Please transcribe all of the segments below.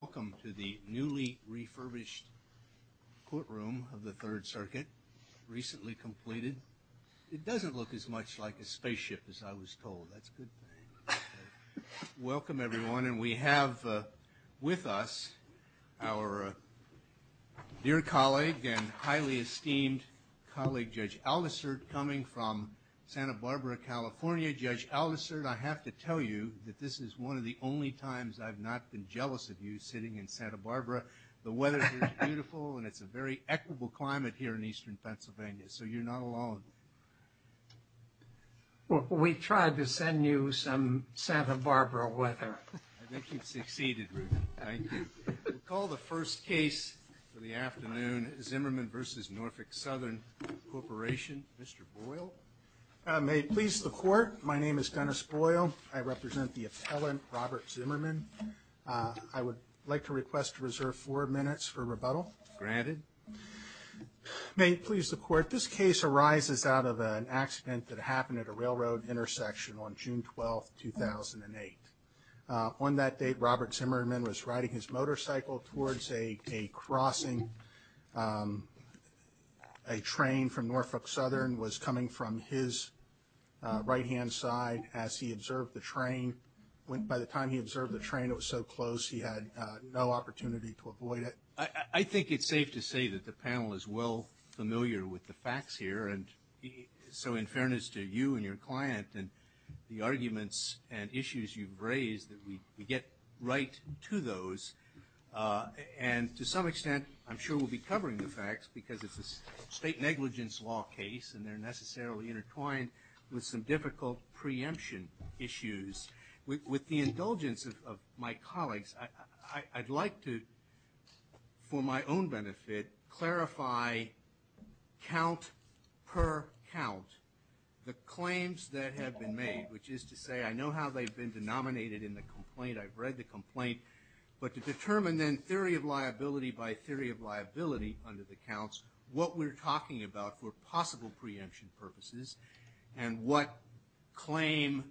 Welcome to the newly refurbished courtroom of the Third Circuit, recently completed. It doesn't look as much like a spaceship as I was told. That's a good thing. Welcome, everyone, and we have with us our dear colleague and highly esteemed colleague, Judge Aldisert, coming from Santa Barbara, California. Judge Aldisert, I have to tell you that this is one of the only times I've not been jealous of you sitting in Santa Barbara. The weather here is beautiful, and it's a very equitable climate here in eastern Pennsylvania, so you're not alone. Well, we tried to send you some Santa Barbara weather. I think you've succeeded, Rudy. Thank you. We'll call the first case for the afternoon, Zimmerman v. Norfolk Southern Corporation. Mr. Boyle. May it please the Court, my name is Dennis Boyle. I represent the appellant, Robert Zimmerman. I would like to request to reserve four minutes for rebuttal. Granted. May it please the Court, this case arises out of an accident that happened at a railroad intersection on June 12, 2008. On that date, Robert Zimmerman was riding his motorcycle towards a crossing. A train from Norfolk Southern was coming from his right-hand side as he observed the train. By the time he observed the train, it was so close he had no opportunity to avoid it. I think it's safe to say that the panel is well familiar with the facts here. And so in fairness to you and your client and the arguments and issues you've raised, we get right to those. And to some extent, I'm sure we'll be covering the facts because it's a state negligence law case and they're necessarily intertwined with some difficult preemption issues. With the indulgence of my colleagues, I'd like to, for my own benefit, clarify, count per count, the claims that have been made, which is to say I know how they've been denominated in the complaint, I've read the complaint, but to determine then theory of liability by theory of liability under the counts, what we're talking about for possible preemption purposes and what claim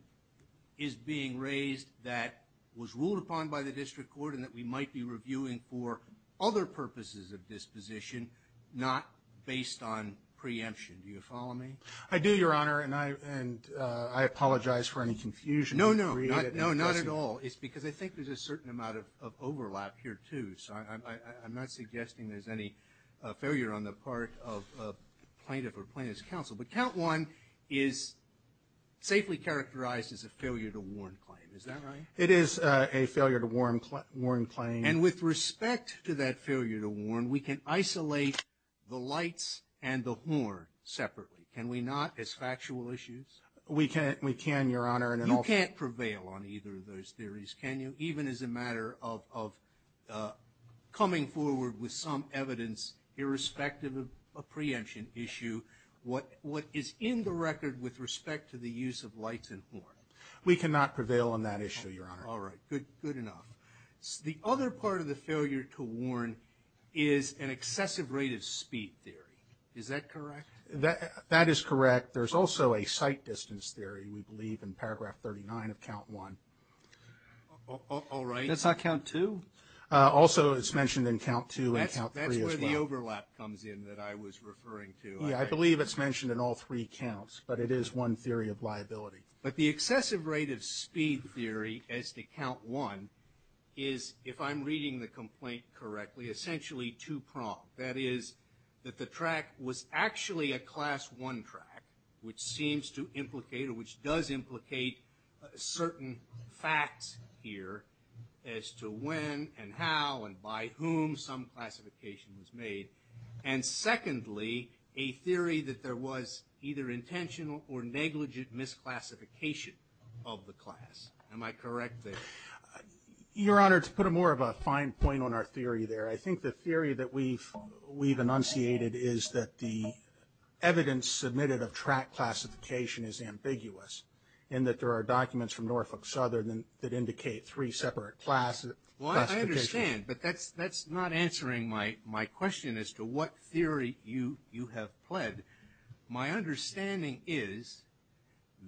is being raised that was ruled upon by the District Court and that we might be reviewing for other purposes of disposition, not based on preemption. Do you follow me? I do, Your Honor, and I apologize for any confusion. No, no, not at all. It's because I think there's a certain amount of overlap here, too. So I'm not suggesting there's any failure on the part of a plaintiff or plaintiff's counsel. But count one is safely characterized as a failure to warn claim. Is that right? It is a failure to warn claim. And with respect to that failure to warn, we can isolate the lights and the horn separately, can we not, as factual issues? We can, Your Honor. You can't prevail on either of those theories, can you? Even as a matter of coming forward with some evidence irrespective of a preemption issue, what is in the record with respect to the use of lights and horn? We cannot prevail on that issue, Your Honor. All right, good enough. The other part of the failure to warn is an excessive rate of speed theory. Is that correct? That is correct. There's also a sight distance theory, we believe, in paragraph 39 of count one. All right. That's not count two? Also, it's mentioned in count two and count three as well. That's where the overlap comes in that I was referring to. Yeah, I believe it's mentioned in all three counts, but it is one theory of liability. But the excessive rate of speed theory as to count one is, if I'm reading the complaint correctly, essentially two-pronged. That is, that the track was actually a class one track, which seems to implicate or which does implicate certain facts here as to when and how and by whom some classification was made. And secondly, a theory that there was either intentional or negligent misclassification of the class. Am I correct there? Your Honor, to put more of a fine point on our theory there, I think the theory that we've enunciated is that the evidence submitted of track classification is ambiguous in that there are documents from Norfolk Southern that indicate three separate classifications. Well, I understand, but that's not answering my question as to what theory you have pled. My understanding is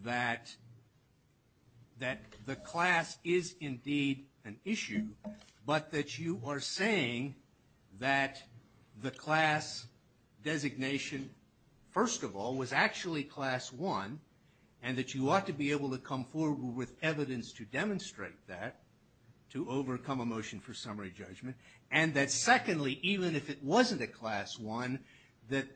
that the class is indeed an issue, but that you are saying that the class designation, first of all, was actually class one, and that you ought to be able to come forward with evidence to demonstrate that to overcome a motion for summary judgment. And that secondly, even if it wasn't a class one, that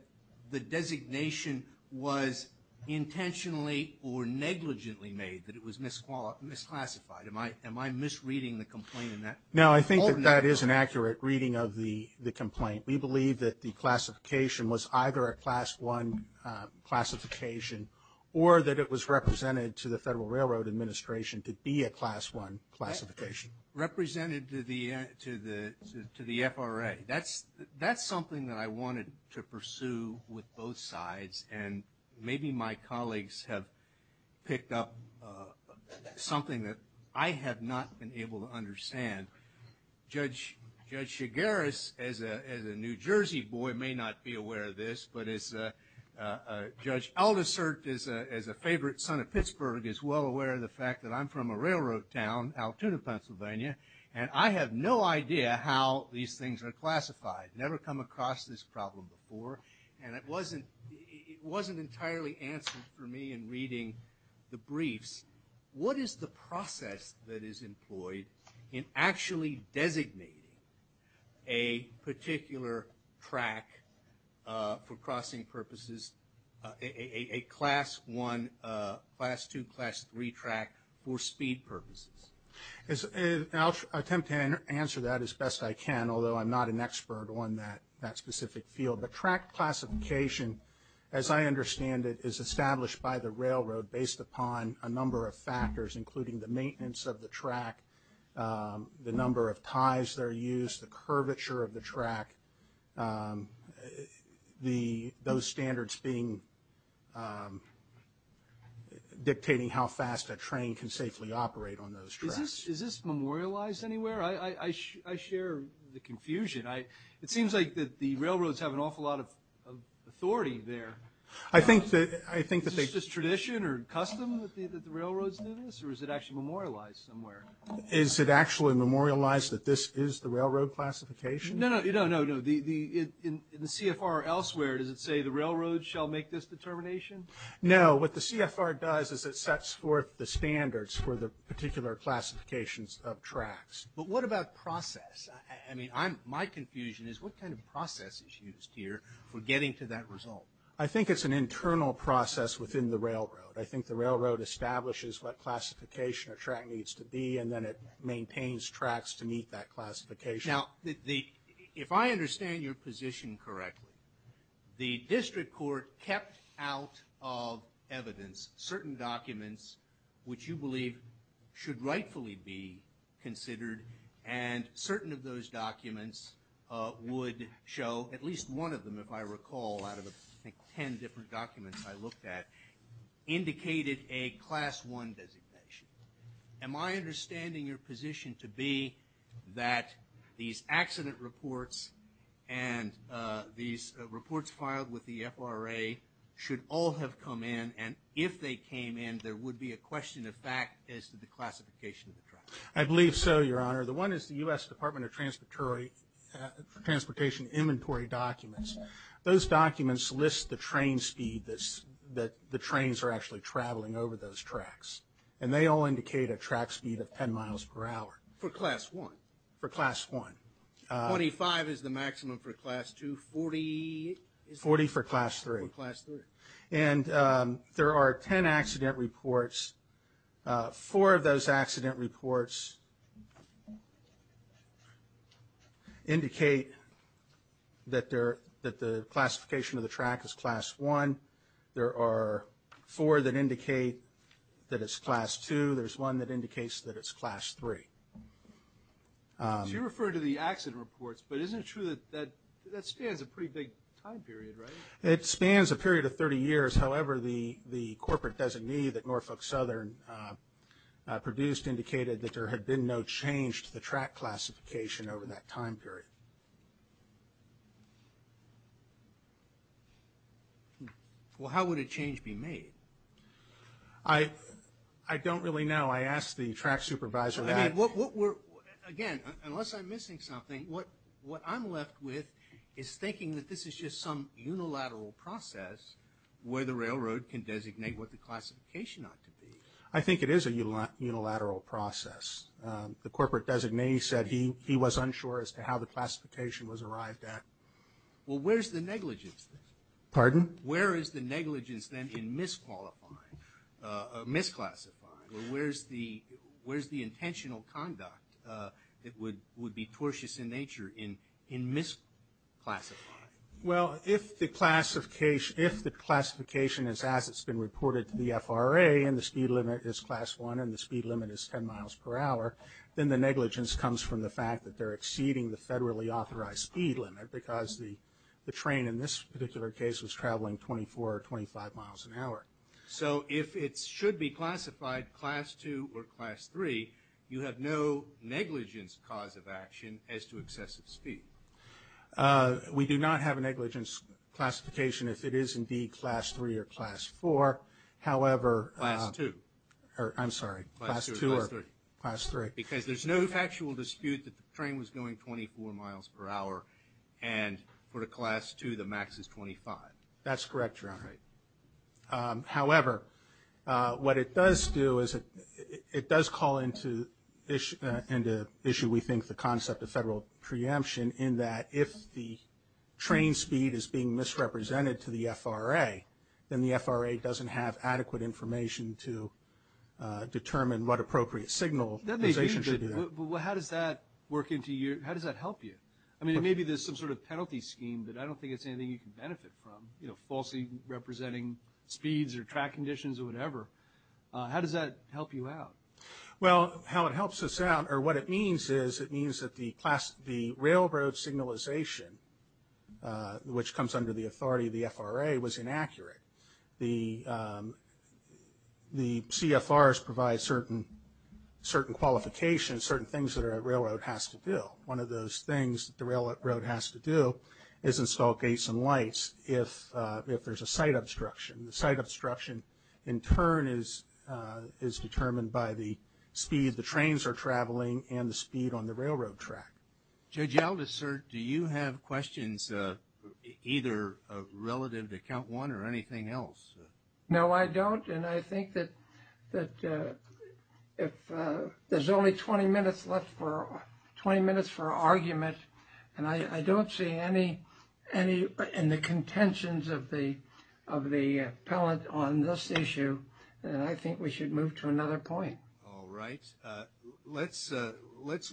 the designation was intentionally or negligently made, that it was misclassified. Am I misreading the complaint in that? No, I think that that is an accurate reading of the complaint. We believe that the classification was either a class one classification or that it was represented to the Federal Railroad Administration to be a class one classification. Which represented to the FRA. That's something that I wanted to pursue with both sides, and maybe my colleagues have picked up something that I have not been able to understand. Judge Chigueras, as a New Jersey boy, may not be aware of this, but Judge Aldersert, as a favorite son of Pittsburgh, is well aware of the fact that I'm from a railroad town, Altoona, Pennsylvania, and I have no idea how these things are classified. Never come across this problem before, and it wasn't entirely answered for me in reading the briefs. What is the process that is employed in actually designating a particular track for crossing purposes, a class one, class two, class three track for speed purposes? I'll attempt to answer that as best I can, although I'm not an expert on that specific field. The track classification, as I understand it, is established by the railroad based upon a number of factors, including the maintenance of the track, the number of ties that are used, the curvature of the track, those standards dictating how fast a train can safely operate on those tracks. Is this memorialized anywhere? I share the confusion. It seems like the railroads have an awful lot of authority there. Is this tradition or custom that the railroads do this, or is it actually memorialized somewhere? Is it actually memorialized that this is the railroad classification? No, no, no, no. In the CFR elsewhere, does it say the railroad shall make this determination? No. What the CFR does is it sets forth the standards for the particular classifications of tracks. But what about process? I mean, my confusion is what kind of process is used here for getting to that result? I think it's an internal process within the railroad. I think the railroad establishes what classification a track needs to be, and then it maintains tracks to meet that classification. Now, if I understand your position correctly, the district court kept out of evidence certain documents which you believe should rightfully be considered, and certain of those documents would show, at least one of them, if I recall, out of the, I think, ten different documents I looked at, indicated a Class I designation. Am I understanding your position to be that these accident reports and these reports filed with the FRA should all have come in, and if they came in there would be a question of fact as to the classification of the track? I believe so, Your Honor. The one is the U.S. Department of Transportation Inventory Documents. Those documents list the train speed that the trains are actually traveling over those tracks, and they all indicate a track speed of 10 miles per hour. For Class I? For Class I. Twenty-five is the maximum for Class II. Forty is the maximum for Class III. And there are ten accident reports. Four of those accident reports indicate that the classification of the track is Class I. There are four that indicate that it's Class II. There's one that indicates that it's Class III. So you're referring to the accident reports, but isn't it true that that spans a pretty big time period, right? It spans a period of 30 years. However, the corporate designee that Norfolk Southern produced indicated that there had been no change to the track classification over that time period. Well, how would a change be made? I don't really know. I asked the track supervisor that. Again, unless I'm missing something, what I'm left with is thinking that this is just some unilateral process where the railroad can designate what the classification ought to be. I think it is a unilateral process. The corporate designee said he was unsure as to how the classification was arrived at. Well, where's the negligence then? Pardon? Where is the negligence then in misqualifying, misclassifying? Where's the intentional conduct that would be tortuous in nature in misclassifying? Well, if the classification is as it's been reported to the FRA and the speed limit is class 1 and the speed limit is 10 miles per hour, then the negligence comes from the fact that they're exceeding the federally authorized speed limit because the train in this particular case was traveling 24 or 25 miles an hour. So if it should be classified class 2 or class 3, you have no negligence cause of action as to excessive speed? We do not have a negligence classification if it is indeed class 3 or class 4. However, Class 2. I'm sorry, class 2 or class 3. Because there's no factual dispute that the train was going 24 miles per hour and for the class 2 the max is 25. That's correct, Your Honor. However, what it does do is it does call into issue, we think, with the concept of federal preemption in that if the train speed is being misrepresented to the FRA, then the FRA doesn't have adequate information to determine what appropriate signalization should be there. Well, how does that work into your – how does that help you? I mean, it may be there's some sort of penalty scheme that I don't think it's anything you can benefit from, you know, falsely representing speeds or track conditions or whatever. How does that help you out? Well, how it helps us out or what it means is it means that the railroad signalization, which comes under the authority of the FRA, was inaccurate. The CFRs provide certain qualifications, certain things that a railroad has to do. One of those things that the railroad has to do is install gates and lights if there's a sight obstruction. The sight obstruction, in turn, is determined by the speed the trains are traveling and the speed on the railroad track. Judge Aldous, sir, do you have questions either relative to count one or anything else? No, I don't, and I think that if there's only 20 minutes left for – 20 minutes for argument, and I don't see any – and the contentions of the appellant on this issue, then I think we should move to another point. All right. Let's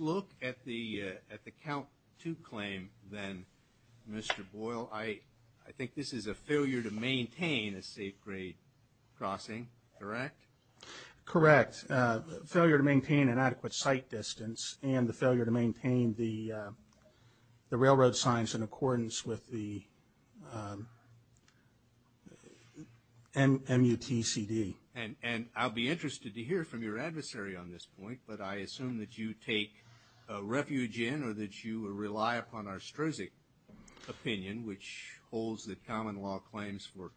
look at the count two claim then, Mr. Boyle. I think this is a failure to maintain a safe grade crossing, correct? Correct. Failure to maintain an adequate sight distance and the failure to maintain the railroad signs in accordance with the MUTCD. And I'll be interested to hear from your adversary on this point, but I assume that you take refuge in or that you rely upon our STRZC opinion, which holds that common law claims for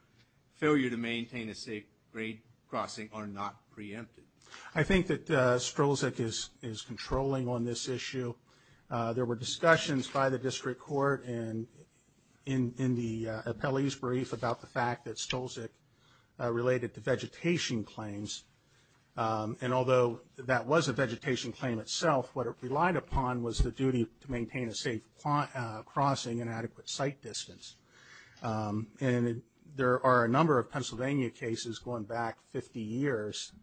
failure to maintain a safe grade crossing are not preempted. I think that STRZC is controlling on this issue. There were discussions by the district court and in the appellee's brief about the fact that STRZC related to vegetation claims, and although that was a vegetation claim itself, what it relied upon was the duty to maintain a safe crossing and adequate sight distance. And there are a number of Pennsylvania cases going back 50 years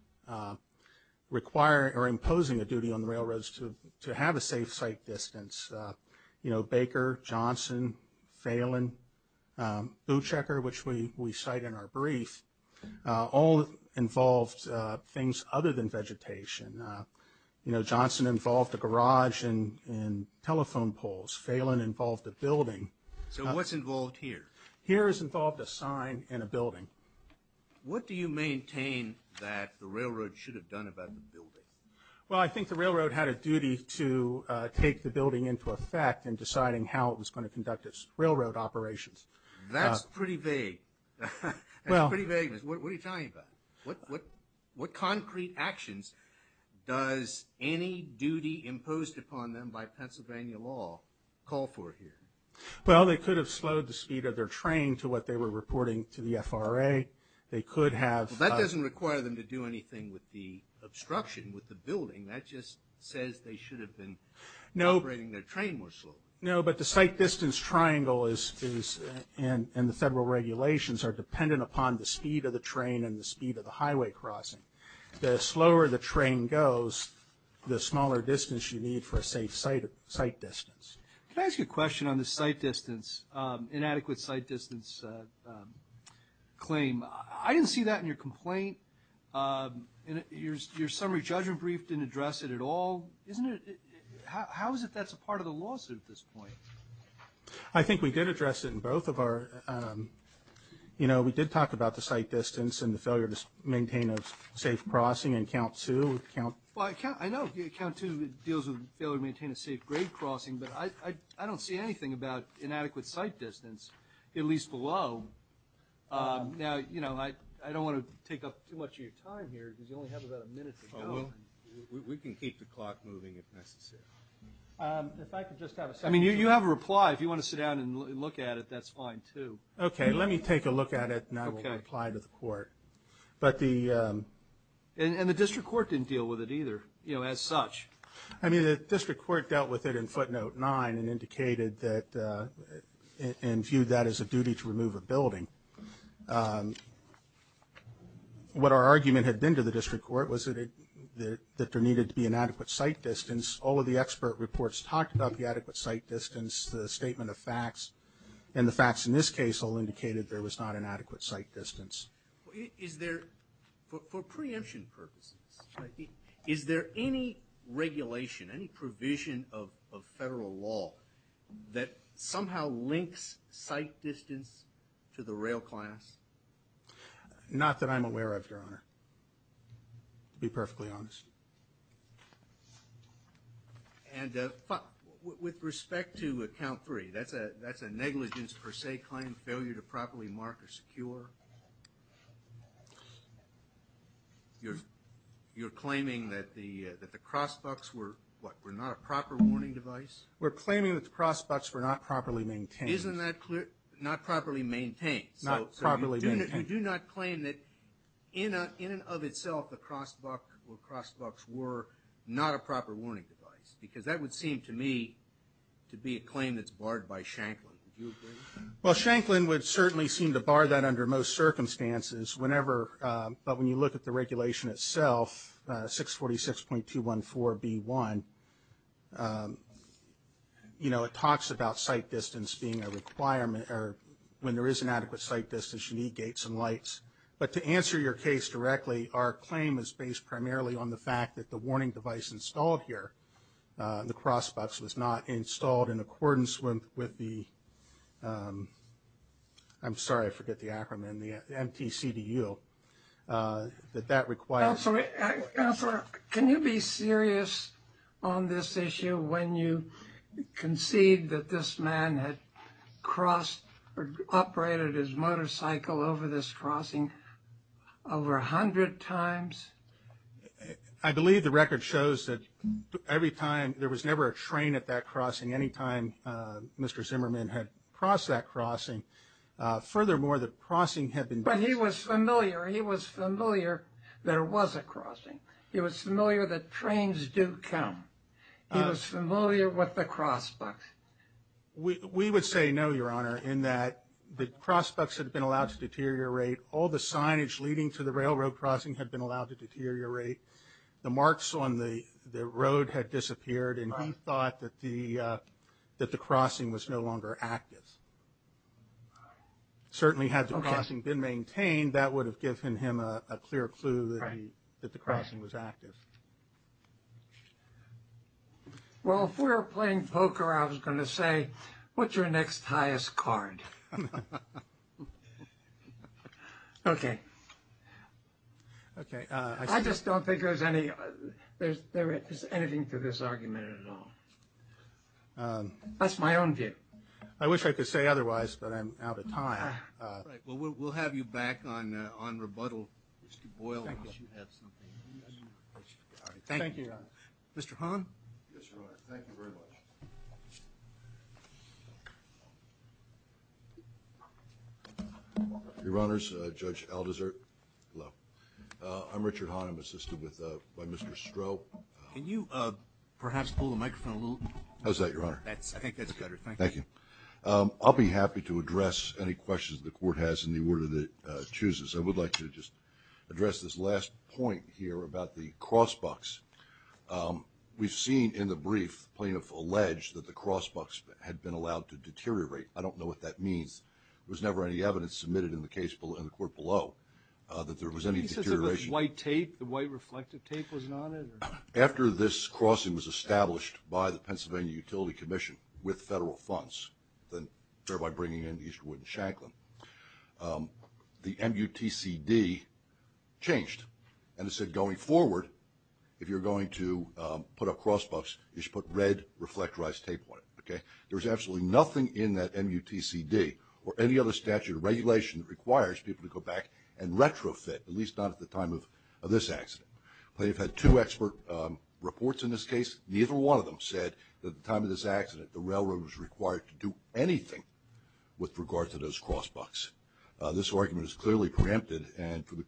requiring or imposing a duty on the railroads to have a safe sight distance. Baker, Johnson, Phelan, Boochecker, which we cite in our brief, all involved things other than vegetation. You know, Johnson involved a garage and telephone poles. Phelan involved a building. So what's involved here? Here is involved a sign and a building. What do you maintain that the railroad should have done about the building? Well, I think the railroad had a duty to take the building into effect in deciding how it was going to conduct its railroad operations. That's pretty vague. That's pretty vague. What are you talking about? What concrete actions does any duty imposed upon them by Pennsylvania law call for here? Well, they could have slowed the speed of their train to what they were reporting to the FRA. That doesn't require them to do anything with the obstruction with the building. That just says they should have been operating their train more slowly. No, but the sight distance triangle and the federal regulations are dependent upon the speed of the train and the speed of the highway crossing. The slower the train goes, the smaller distance you need for a safe sight distance. Can I ask you a question on the sight distance, inadequate sight distance claim? I didn't see that in your complaint. Your summary judgment brief didn't address it at all. How is it that's a part of the lawsuit at this point? I think we did address it in both of our – we did talk about the sight distance and the failure to maintain a safe crossing in count two. Well, I know count two deals with failure to maintain a safe grade crossing, but I don't see anything about inadequate sight distance, at least below. Now, I don't want to take up too much of your time here because you only have about a minute to go. We can keep the clock moving if necessary. If I could just have a second. I mean, you have a reply. If you want to sit down and look at it, that's fine too. Okay, let me take a look at it, and I will reply to the court. But the – And the district court didn't deal with it either, you know, as such. I mean, the district court dealt with it in footnote nine and indicated that – and viewed that as a duty to remove a building. What our argument had been to the district court was that there needed to be inadequate sight distance. All of the expert reports talked about the adequate sight distance, the statement of facts, and the facts in this case all indicated there was not an adequate sight distance. Is there – for preemption purposes, is there any regulation, any provision of federal law that somehow links sight distance to the rail class? Not that I'm aware of, Your Honor, to be perfectly honest. And with respect to account three, that's a negligence per se claim, failure to properly mark or secure? You're claiming that the cross bucks were, what, were not a proper warning device? We're claiming that the cross bucks were not properly maintained. Isn't that clear? Not properly maintained. Not properly maintained. So you do not claim that in and of itself the cross buck or cross bucks were not a proper warning device? Because that would seem to me to be a claim that's barred by Shanklin. Would you agree? Well, Shanklin would certainly seem to bar that under most circumstances whenever – but when you look at the regulation itself, 646.214B1, you know, it talks about sight distance being a requirement or when there is inadequate sight distance, you need gates and lights. But to answer your case directly, our claim is based primarily on the fact that the warning device installed here, the cross bucks, was not installed in accordance with the – I'm sorry, I forget the acronym, the MTCDU, that that requires – Counselor, can you be serious on this issue when you concede that this man had crossed or operated his motorcycle over this crossing over a hundred times? I believe the record shows that every time – there was never a train at that crossing. Any time Mr. Zimmerman had crossed that crossing. Furthermore, the crossing had been – But he was familiar. He was familiar there was a crossing. He was familiar that trains do come. He was familiar with the cross bucks. We would say no, Your Honor, in that the cross bucks had been allowed to deteriorate. All the signage leading to the railroad crossing had been allowed to deteriorate. The marks on the road had disappeared, and he thought that the crossing was no longer active. Certainly had the crossing been maintained, that would have given him a clear clue that the crossing was active. Well, if we were playing poker, I was going to say, what's your next highest card? Okay. I just don't think there's anything to this argument at all. That's my own view. I wish I could say otherwise, but I'm out of time. All right. Well, we'll have you back on rebuttal, Mr. Boyle, unless you have something. Thank you, Your Honor. Mr. Hahn? Yes, Your Honor. Thank you very much. Your Honors, Judge Alderser. Hello. I'm Richard Hahn. I'm assisted by Mr. Stroh. Can you perhaps pull the microphone a little? How's that, Your Honor? I think that's better. Thank you. I'll be happy to address any questions the court has in the order that it chooses. I would like to just address this last point here about the cross bucks. We've seen in the brief, the plaintiff alleged that the cross bucks had been allowed to deteriorate. I don't know what that means. There was never any evidence submitted in the case in the court below that there was any deterioration. Did he say there was white tape? The white reflective tape wasn't on it? After this crossing was established by the Pennsylvania Utility Commission with federal funds, thereby bringing in Eastwood and Shanklin, the MUTCD changed. And it said going forward, if you're going to put a cross bucks, you should put red reflectorized tape on it, okay? There was absolutely nothing in that MUTCD or any other statute or regulation that requires people to go back and retrofit, at least not at the time of this accident. Plaintiff had two expert reports in this case. Neither one of them said that at the time of this accident, the railroad was required to do anything with regard to those cross bucks. This argument is clearly preempted, and for the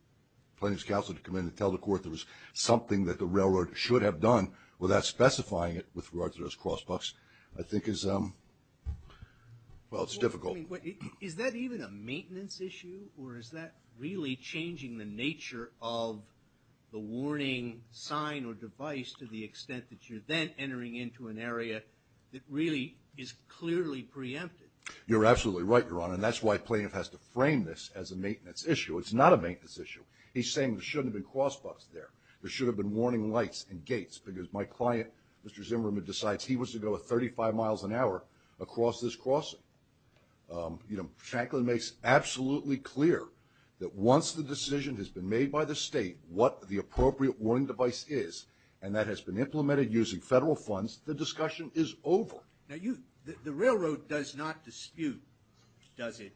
plaintiff's counsel to come in and tell the court there was something that the railroad should have done without specifying it with regard to those cross bucks, I think is, well, it's difficult. Is that even a maintenance issue, or is that really changing the nature of the warning sign or device to the railroad and then entering into an area that really is clearly preempted? You're absolutely right, Your Honor, and that's why plaintiff has to frame this as a maintenance issue. It's not a maintenance issue. He's saying there shouldn't have been cross bucks there. There should have been warning lights and gates, because my client, Mr. Zimmerman, decides he wants to go 35 miles an hour across this crossing. Shanklin makes absolutely clear that once the decision has been made by the state what the appropriate warning device is, and that has been implemented using federal funds, the discussion is over. Now, the railroad does not dispute, does it,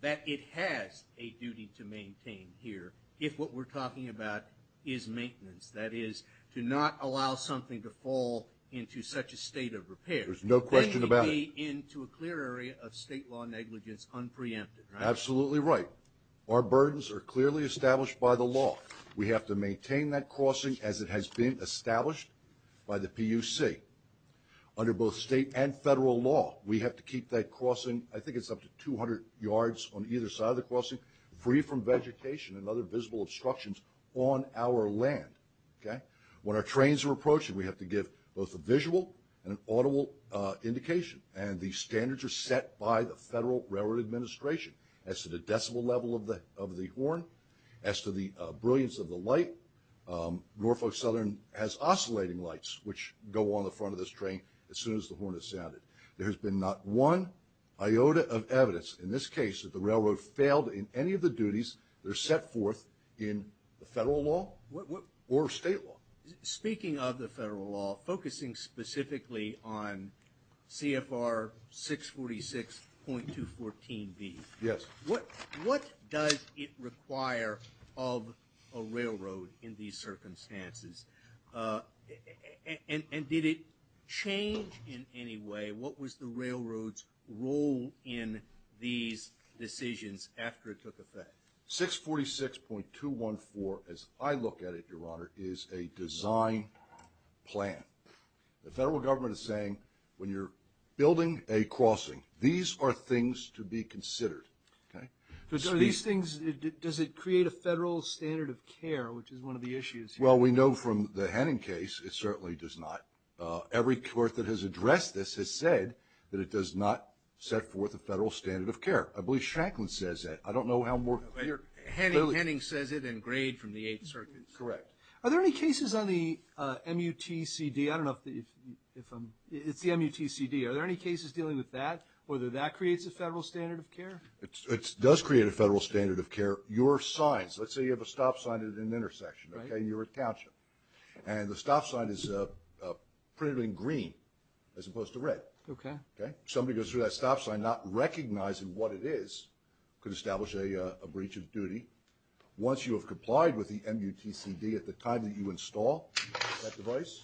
that it has a duty to maintain here if what we're talking about is maintenance, that is, to not allow something to fall into such a state of repair. There's no question about it. Then we'd be into a clear area of state law negligence unpreempted, right? Absolutely right. Our burdens are clearly established by the law. We have to maintain that crossing as it has been established by the PUC. Under both state and federal law, we have to keep that crossing, I think it's up to 200 yards on either side of the crossing, free from vegetation and other visible obstructions on our land. When our trains are approaching, we have to give both a visual and an audible indication, and the standards are set by the Federal Railroad Administration as to the decibel level of the horn, as to the brilliance of the light. Norfolk Southern has oscillating lights, which go on the front of this train as soon as the horn is sounded. There has been not one iota of evidence in this case that the railroad failed in any of the duties that are set forth in the federal law or state law. Speaking of the federal law, focusing specifically on CFR 646.214B, what does it require of a railroad in these circumstances? And did it change in any way? What was the railroad's role in these decisions after it took effect? 646.214, as I look at it, Your Honor, is a design plan. The federal government is saying, when you're building a crossing, these are things to be considered. So are these things, does it create a federal standard of care, which is one of the issues here? Well, we know from the Henning case, it certainly does not. Every court that has addressed this has said that it does not set forth a federal standard of care. I believe Shacklin says that. I don't know how more clear. Henning says it in grade from the Eighth Circuit. Correct. Are there any cases on the MUTCD, I don't know if, it's the MUTCD, are there any cases dealing with that, whether that creates a federal standard of care? It does create a federal standard of care. Your signs, let's say you have a stop sign at an intersection, okay, and you're at Township, and the stop sign is printed in green as opposed to red. Okay. Somebody goes through that stop sign not recognizing what it is could establish a breach of duty. Once you have complied with the MUTCD at the time that you install that device,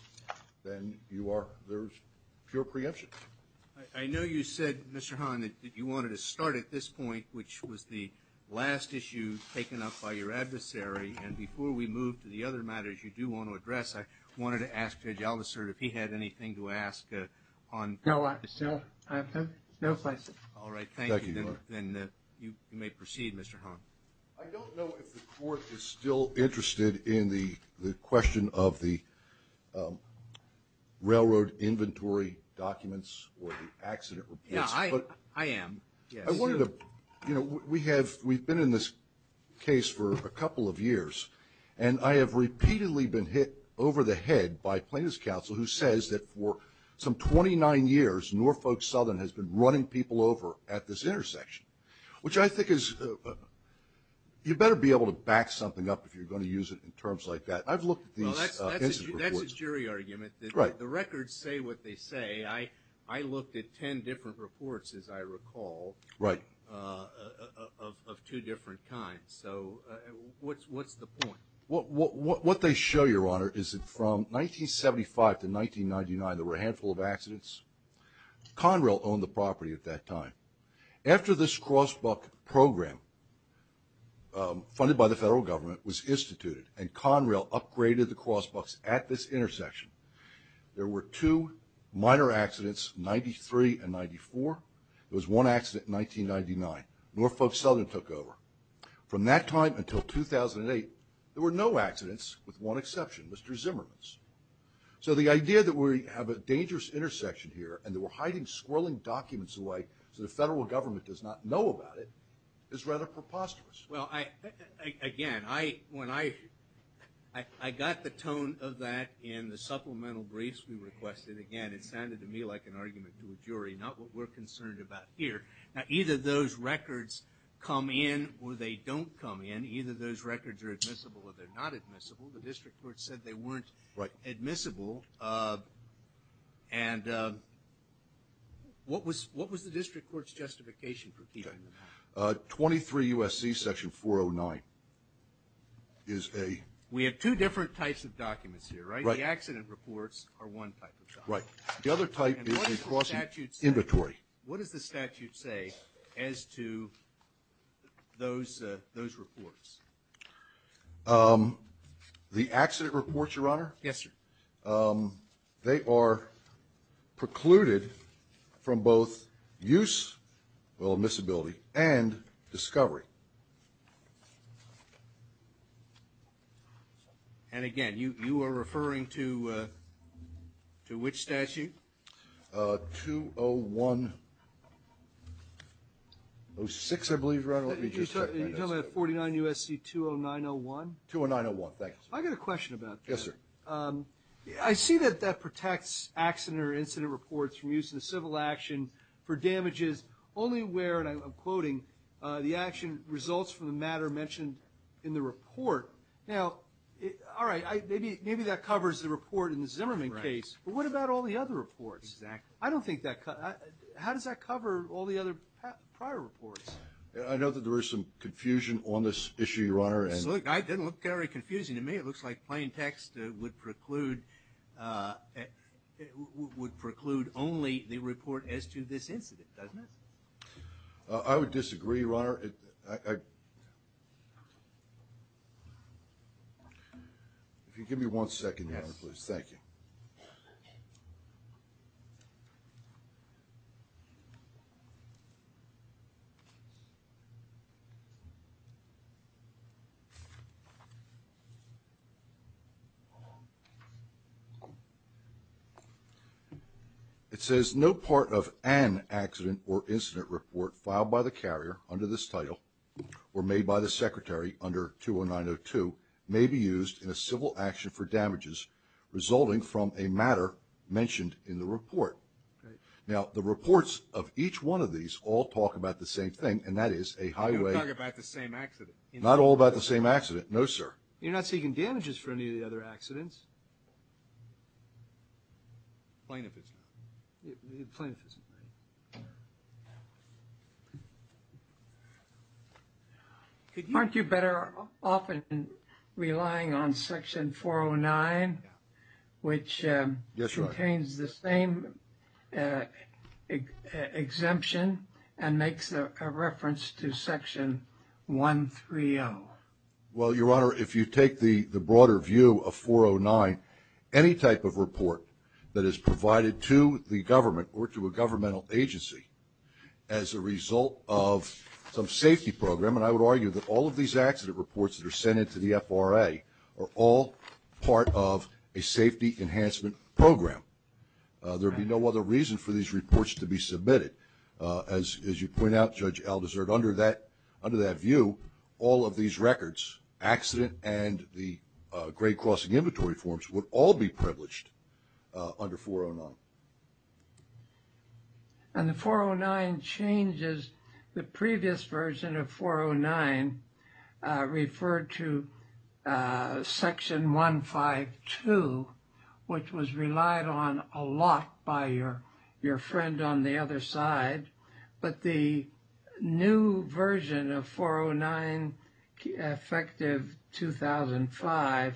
then you are, there's pure preemption. I know you said, Mr. Hahn, that you wanted to start at this point, which was the last issue taken up by your adversary, and before we move to the other matters you do want to address, I wanted to ask Judge Aldiser if he had anything to ask on this. No, I have no questions. All right, thank you. Thank you, Your Honor. Then you may proceed, Mr. Hahn. I don't know if the Court is still interested in the question of the railroad inventory documents or the accident reports. Yeah, I am. I wanted to, you know, we have, we've been in this case for a couple of years, and I have repeatedly been hit over the head by plaintiff's counsel who says that for some 29 years Norfolk Southern has been running people over at this intersection, which I think is, you better be able to back something up if you're going to use it in terms like that. I've looked at these incident reports. Well, that's a jury argument. Right. The records say what they say. I looked at 10 different reports, as I recall. Right. Of two different kinds. So what's the point? What they show, Your Honor, is that from 1975 to 1999 there were a handful of accidents. Conrail owned the property at that time. After this cross buck program, funded by the federal government, was instituted and Conrail upgraded the cross bucks at this intersection, there were two minor accidents, 93 and 94. There was one accident in 1999. Norfolk Southern took over. From that time until 2008, there were no accidents with one exception, Mr. Zimmerman's. So the idea that we have a dangerous intersection here and that we're hiding squirreling documents away so the federal government does not know about it is rather preposterous. Well, again, I got the tone of that in the supplemental briefs we requested. Again, it sounded to me like an argument to a jury, not what we're concerned about here. Now, either those records come in or they don't come in. Either those records are admissible or they're not admissible. The district court said they weren't admissible. And what was the district court's justification for keeping them? 23 U.S.C. Section 409 is a- We have two different types of documents here, right? The accident reports are one type of document. Right. The other type is a cross inventory. What does the statute say as to those reports? The accident reports, Your Honor? Yes, sir. They are precluded from both use, well, admissibility, and discovery. And, again, you are referring to which statute? 201-06, I believe, Your Honor. You're talking about 49 U.S.C. 209-01? 209-01, thank you, sir. I got a question about that. Yes, sir. I see that that protects accident or incident reports from use in a civil action for damages only where, and I'm quoting, the action results from the matter mentioned in the report. Now, all right, maybe that covers the report in the Zimmerman case. Right. But what about all the other reports? Exactly. I don't think that – how does that cover all the other prior reports? I know that there is some confusion on this issue, Your Honor. It doesn't look very confusing to me. It looks like plain text would preclude only the report as to this incident, doesn't it? If you could give me one second, Your Honor, please. Thank you. Okay. It says, no part of an accident or incident report filed by the carrier under this title or made by the secretary under 209-02 may be used in a civil action for damages resulting from a matter mentioned in the report. Now, the reports of each one of these all talk about the same thing, and that is a highway – They don't talk about the same accident. Not all about the same accident, no, sir. You're not seeking damages for any of the other accidents. Plain if it's not. Plain if it's not. Aren't you better off relying on Section 409, which contains the same exemption and makes a reference to Section 130? Well, Your Honor, if you take the broader view of 409, any type of report that is provided to the government or to a governmental agency as a result of some safety program, and I would argue that all of these accident reports that are sent in to the FRA are all part of a safety enhancement program. There would be no other reason for these reports to be submitted. As you point out, Judge Aldersard, under that view, all of these records, accident and the grade-crossing inventory forms would all be privileged under 409. And the 409 changes. The previous version of 409 referred to Section 152, which was relied on a lot by your friend on the other side. But the new version of 409, effective 2005,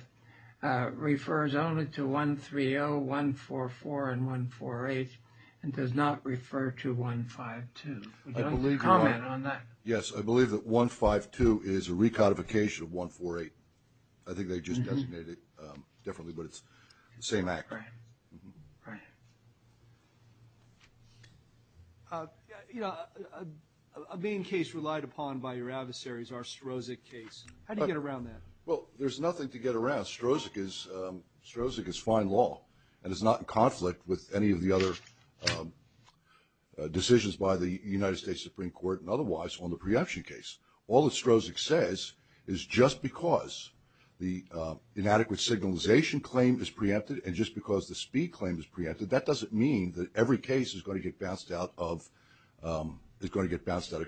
refers only to 130, 144, and 148 and does not refer to 152. Would you comment on that? Yes, I believe that 152 is a recodification of 148. I think they just designated it differently, but it's the same act. Right. Yes, sir. You know, a main case relied upon by your adversaries, our Strozik case. How do you get around that? Well, there's nothing to get around. Strozik is fine law and is not in conflict with any of the other decisions by the United States Supreme Court and otherwise on the preemption case. All that Strozik says is just because the inadequate signalization claim is preempted and just because the speed claim is preempted, that doesn't mean that every case is going to get bounced out of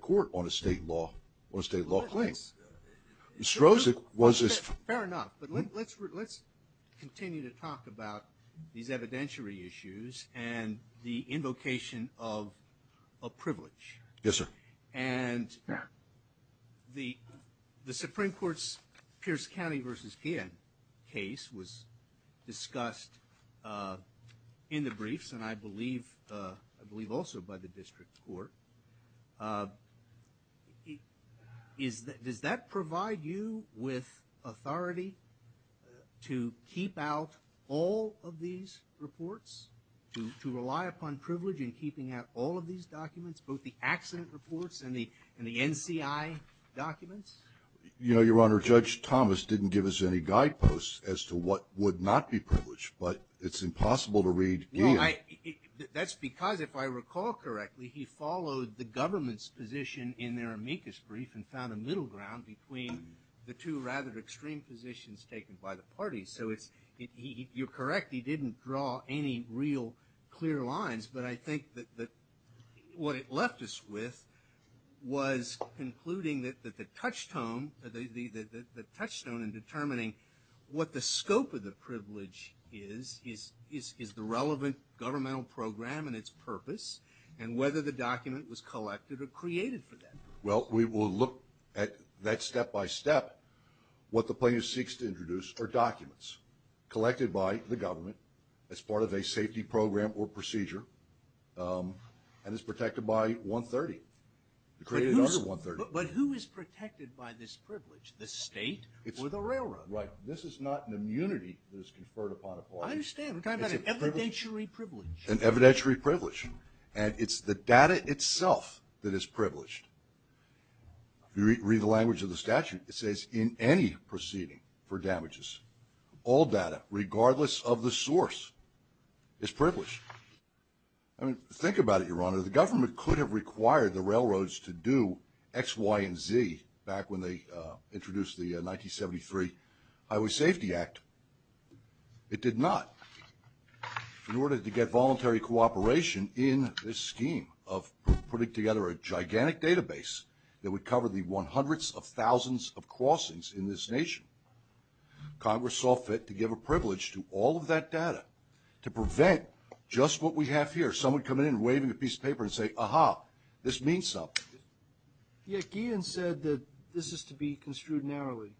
court on a state law claim. Fair enough. But let's continue to talk about these evidentiary issues and the invocation of a privilege. Yes, sir. And the Supreme Court's Pierce County v. PN case was discussed in the briefs and I believe also by the district court. Does that provide you with authority to keep out all of these reports, to rely upon privilege in keeping out all of these documents, both the accident reports and the NCI documents? Your Honor, Judge Thomas didn't give us any guideposts as to what would not be privileged, but it's impossible to read here. That's because, if I recall correctly, he followed the government's position in their amicus brief and found a middle ground between the two rather extreme positions taken by the parties. So you're correct, he didn't draw any real clear lines, but I think that what it left us with was concluding that the touchstone in determining what the scope of the privilege is, is the relevant governmental program and its purpose, and whether the document was collected or created for that purpose. Well, we will look at that step by step. What the plaintiff seeks to introduce are documents collected by the government as part of a safety program or procedure and is protected by 130. But who is protected by this privilege? The state or the railroad? Right. This is not an immunity that is conferred upon a party. I understand. We're talking about an evidentiary privilege. An evidentiary privilege. And it's the data itself that is privileged. If you read the language of the statute, it says, in any proceeding for damages, all data, regardless of the source, is privileged. I mean, think about it, Your Honor. The government could have required the railroads to do X, Y, and Z back when they introduced the 1973 Highway Safety Act. It did not. In order to get voluntary cooperation in this scheme of putting together a gigantic database that would cover the 100s of thousands of crossings in this nation, Congress saw fit to give a privilege to all of that data to prevent just what we have here. Someone would come in waving a piece of paper and say, Aha, this means something. Yeah, Guillen said that this is to be construed narrowly,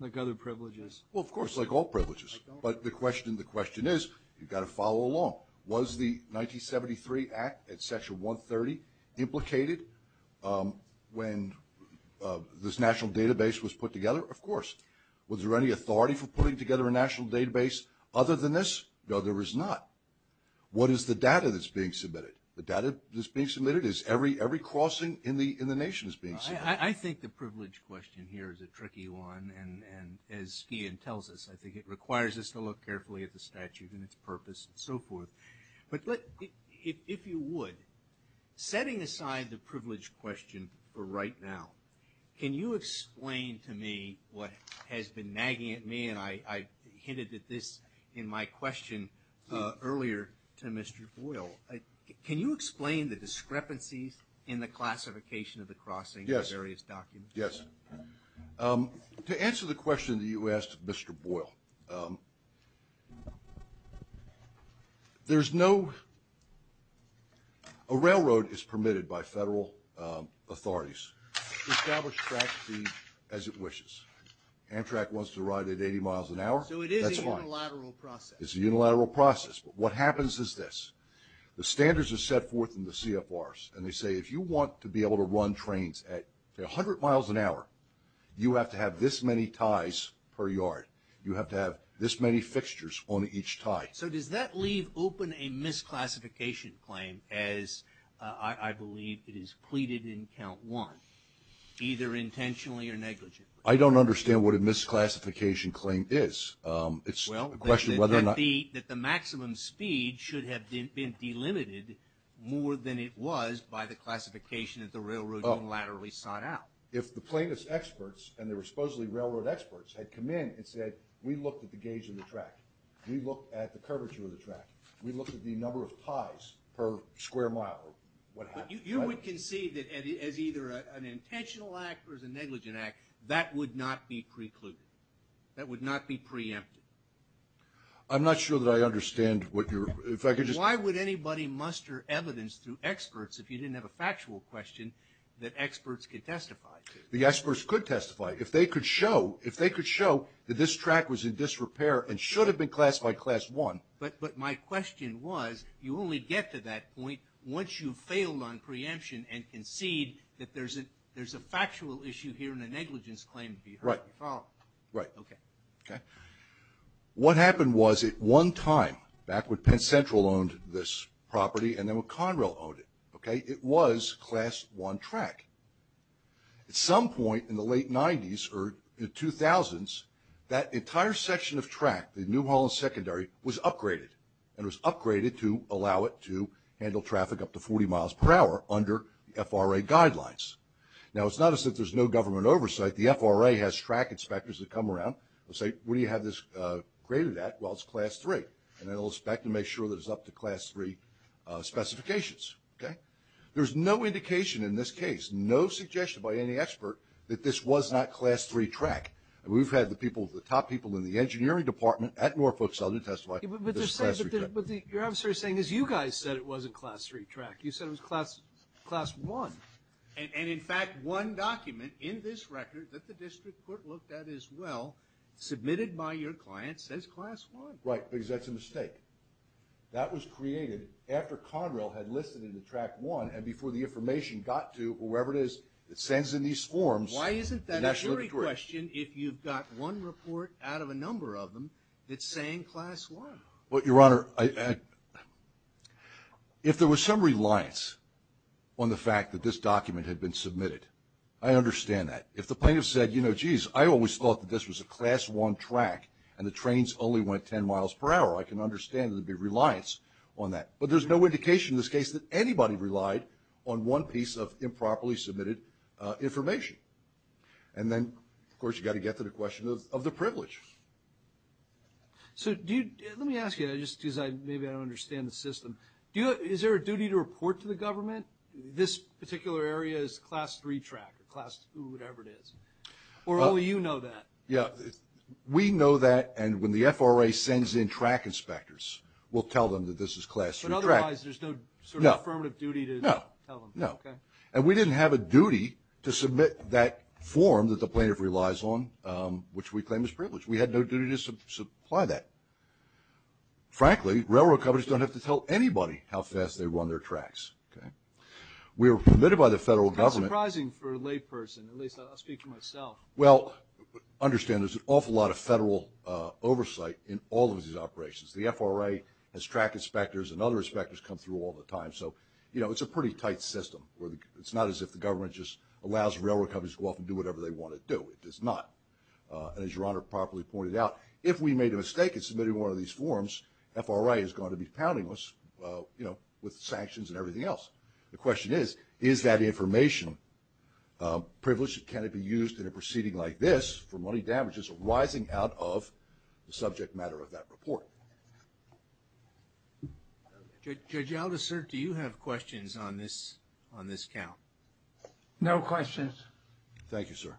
like other privileges. Well, of course, like all privileges. But the question is, you've got to follow along. Was the 1973 Act at Section 130 implicated when this national database was put together? Of course. Was there any authority for putting together a national database other than this? No, there was not. What is the data that's being submitted? The data that's being submitted is every crossing in the nation is being submitted. I think the privilege question here is a tricky one. And as Guillen tells us, I think it requires us to look carefully at the statute and its purpose and so forth. But if you would, setting aside the privilege question for right now, can you explain to me what has been nagging at me, and I hinted at this in my question earlier to Mr. Boyle, can you explain the discrepancies in the classification of the crossing in various documents? Yes. Yes. To answer the question that you asked, Mr. Boyle, there's no – a railroad is permitted by federal authorities to establish track speed as it wishes. Amtrak wants to ride at 80 miles an hour. So it is a unilateral process. It's a unilateral process. But what happens is this. The standards are set forth in the CFRs, and they say if you want to be able to run trains at 100 miles an hour, you have to have this many ties per yard. You have to have this many fixtures on each tie. So does that leave open a misclassification claim, as I believe it is pleaded in Count 1, either intentionally or negligently? I don't understand what a misclassification claim is. It's a question of whether or not – should have been delimited more than it was by the classification that the railroad unilaterally sought out. If the plaintiff's experts, and they were supposedly railroad experts, had come in and said, we looked at the gauge of the track, we looked at the curvature of the track, we looked at the number of ties per square mile, what happens? You would concede that as either an intentional act or as a negligent act, that would not be precluded. That would not be preempted. I'm not sure that I understand what you're – if I could just – Why would anybody muster evidence through experts if you didn't have a factual question that experts could testify to? The experts could testify. If they could show – if they could show that this track was in disrepair and should have been classified Class 1. But my question was, you only get to that point once you've failed on preemption and concede that there's a factual issue here and a negligence claim to be heard. Right. Follow up. Right. Okay. Okay. What happened was at one time, back when Penn Central owned this property and then when Conrail owned it, okay, it was Class 1 track. At some point in the late 90s or the 2000s, that entire section of track, the New Holland Secondary, was upgraded. And it was upgraded to allow it to handle traffic up to 40 miles per hour under the FRA guidelines. Now, it's not as if there's no government oversight. The FRA has track inspectors that come around and say, what do you have this graded at? Well, it's Class 3. And they'll inspect and make sure that it's up to Class 3 specifications. Okay? There's no indication in this case, no suggestion by any expert, that this was not Class 3 track. And we've had the people, the top people in the engineering department at Norfolk Southern testify that this is Class 3 track. But your officer is saying, as you guys said it wasn't Class 3 track. You said it was Class 1. And, in fact, one document in this record that the district court looked at as well, submitted by your client, says Class 1. Right, because that's a mistake. That was created after Conrail had listed it in Track 1 and before the information got to whoever it is that sends in these forms. Why isn't that a jury question if you've got one report out of a number of them that's saying Class 1? Well, Your Honor, if there was some reliance on the fact that this document had been submitted, I understand that. If the plaintiff said, you know, geez, I always thought that this was a Class 1 track and the trains only went 10 miles per hour, I can understand there would be reliance on that. But there's no indication in this case that anybody relied on one piece of improperly submitted information. And then, of course, you've got to get to the question of the privilege. So let me ask you, just because maybe I don't understand the system, is there a duty to report to the government this particular area is Class 3 track or whatever it is? Or only you know that? Yeah, we know that, and when the FRA sends in track inspectors, we'll tell them that this is Class 3 track. But otherwise there's no sort of affirmative duty to tell them? No, no. Okay. And we didn't have a duty to submit that form that the plaintiff relies on, which we claim is privilege. We had no duty to supply that. Frankly, railroad companies don't have to tell anybody how fast they run their tracks. Okay? We were permitted by the federal government. That's surprising for a layperson. At least I'll speak for myself. Well, understand there's an awful lot of federal oversight in all of these operations. The FRA has track inspectors, and other inspectors come through all the time. So, you know, it's a pretty tight system. It's not as if the government just allows railroad companies to go off and do whatever they want to do. It does not. And as Your Honor properly pointed out, if we made a mistake in submitting one of these forms, FRA is going to be pounding us, you know, with sanctions and everything else. The question is, is that information privileged? Can it be used in a proceeding like this for money damages arising out of the subject matter of that report? Judge Aldous, sir, do you have questions on this count? No questions. Thank you, sir.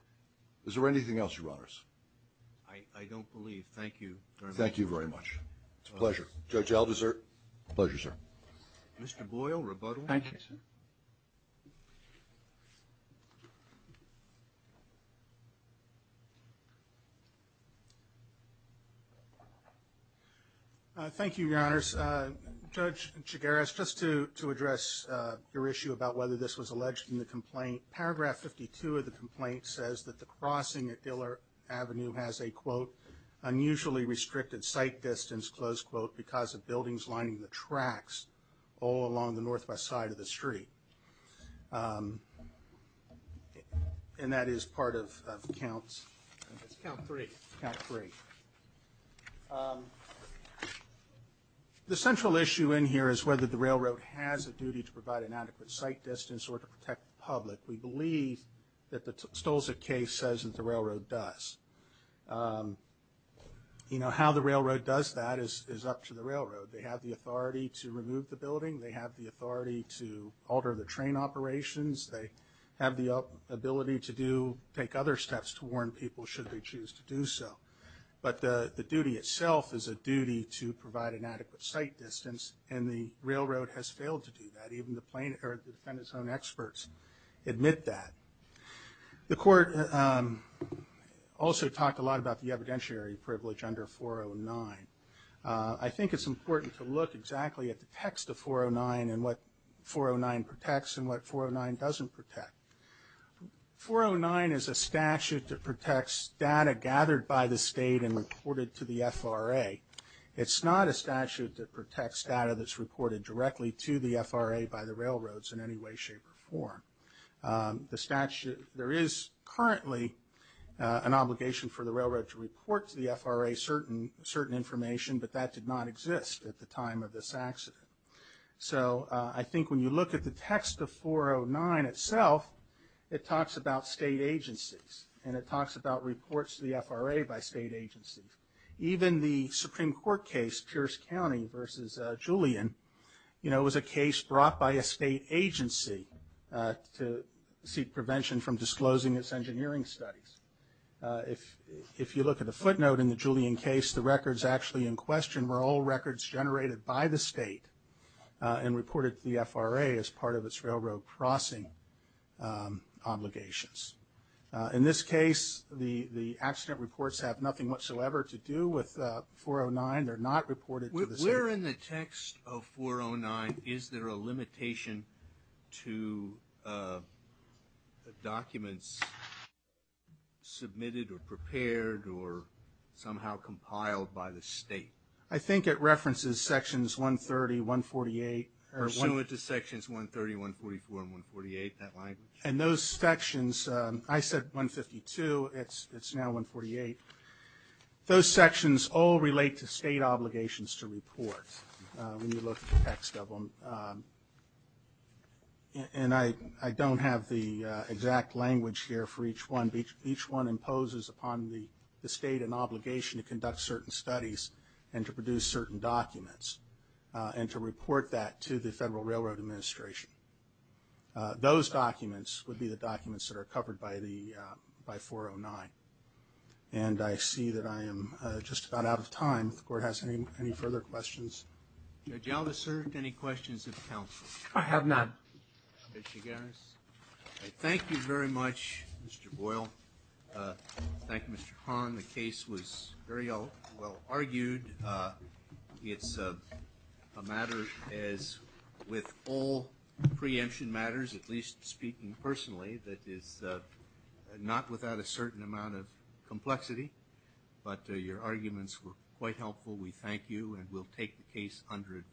Is there anything else, Your Honors? I don't believe. Thank you very much. Thank you very much. It's a pleasure. Judge Aldous, sir? Pleasure, sir. Mr. Boyle, rebuttal. Thank you, sir. Thank you, Your Honors. Judge Chigares, just to address your issue about whether this was alleged in the complaint, paragraph 52 of the complaint says that the crossing at Dillard Avenue has a, quote, unusually restricted sight distance, close quote, because of buildings lining the tracks all along the northwest side of the street. And that is part of counts. It's count three. Count three. The central issue in here is whether the railroad has a duty to provide an adequate sight distance or to protect the public. We believe that the Stolzik case says that the railroad does. You know, how the railroad does that is up to the railroad. They have the authority to remove the building. They have the authority to alter the train operations. They have the ability to do, take other steps to warn people should they choose to do so. But the duty itself is a duty to provide an adequate sight distance, and the railroad has failed to do that. Even the defendant's own experts admit that. The court also talked a lot about the evidentiary privilege under 409. I think it's important to look exactly at the text of 409 and what 409 protects and what 409 doesn't protect. 409 is a statute that protects data gathered by the state and reported to the FRA. It's not a statute that protects data that's reported directly to the FRA by the railroads in any way, shape, or form. There is currently an obligation for the railroad to report to the FRA certain information, but that did not exist at the time of this accident. So I think when you look at the text of 409 itself, it talks about state agencies, and it talks about reports to the FRA by state agencies. Even the Supreme Court case, Pierce County versus Julian, was a case brought by a state agency to seek prevention from disclosing its engineering studies. If you look at the footnote in the Julian case, the records actually in question were all records generated by the state and reported to the FRA as part of its railroad crossing obligations. In this case, the accident reports have nothing whatsoever to do with 409. They're not reported to the state. Where in the text of 409 is there a limitation to documents submitted or prepared or somehow compiled by the state? I think it references sections 130, 148. Pursuant to sections 130, 144, and 148, that language? And those sections, I said 152. It's now 148. Those sections all relate to state obligations to report when you look at the text of them. And I don't have the exact language here for each one. Each one imposes upon the state an obligation to conduct certain studies and to produce certain documents and to report that to the Federal Railroad Administration. Those documents would be the documents that are covered by 409. And I see that I am just about out of time. If the Court has any further questions. Judge Aldous, sir, any questions of counsel? I have none. Judge Chigares? Thank you very much, Mr. Boyle. Thank you, Mr. Hahn. The case was very well argued. It's a matter, as with all preemption matters, at least speaking personally, that is not without a certain amount of complexity. But your arguments were quite helpful. We thank you, and we'll take the case under advice.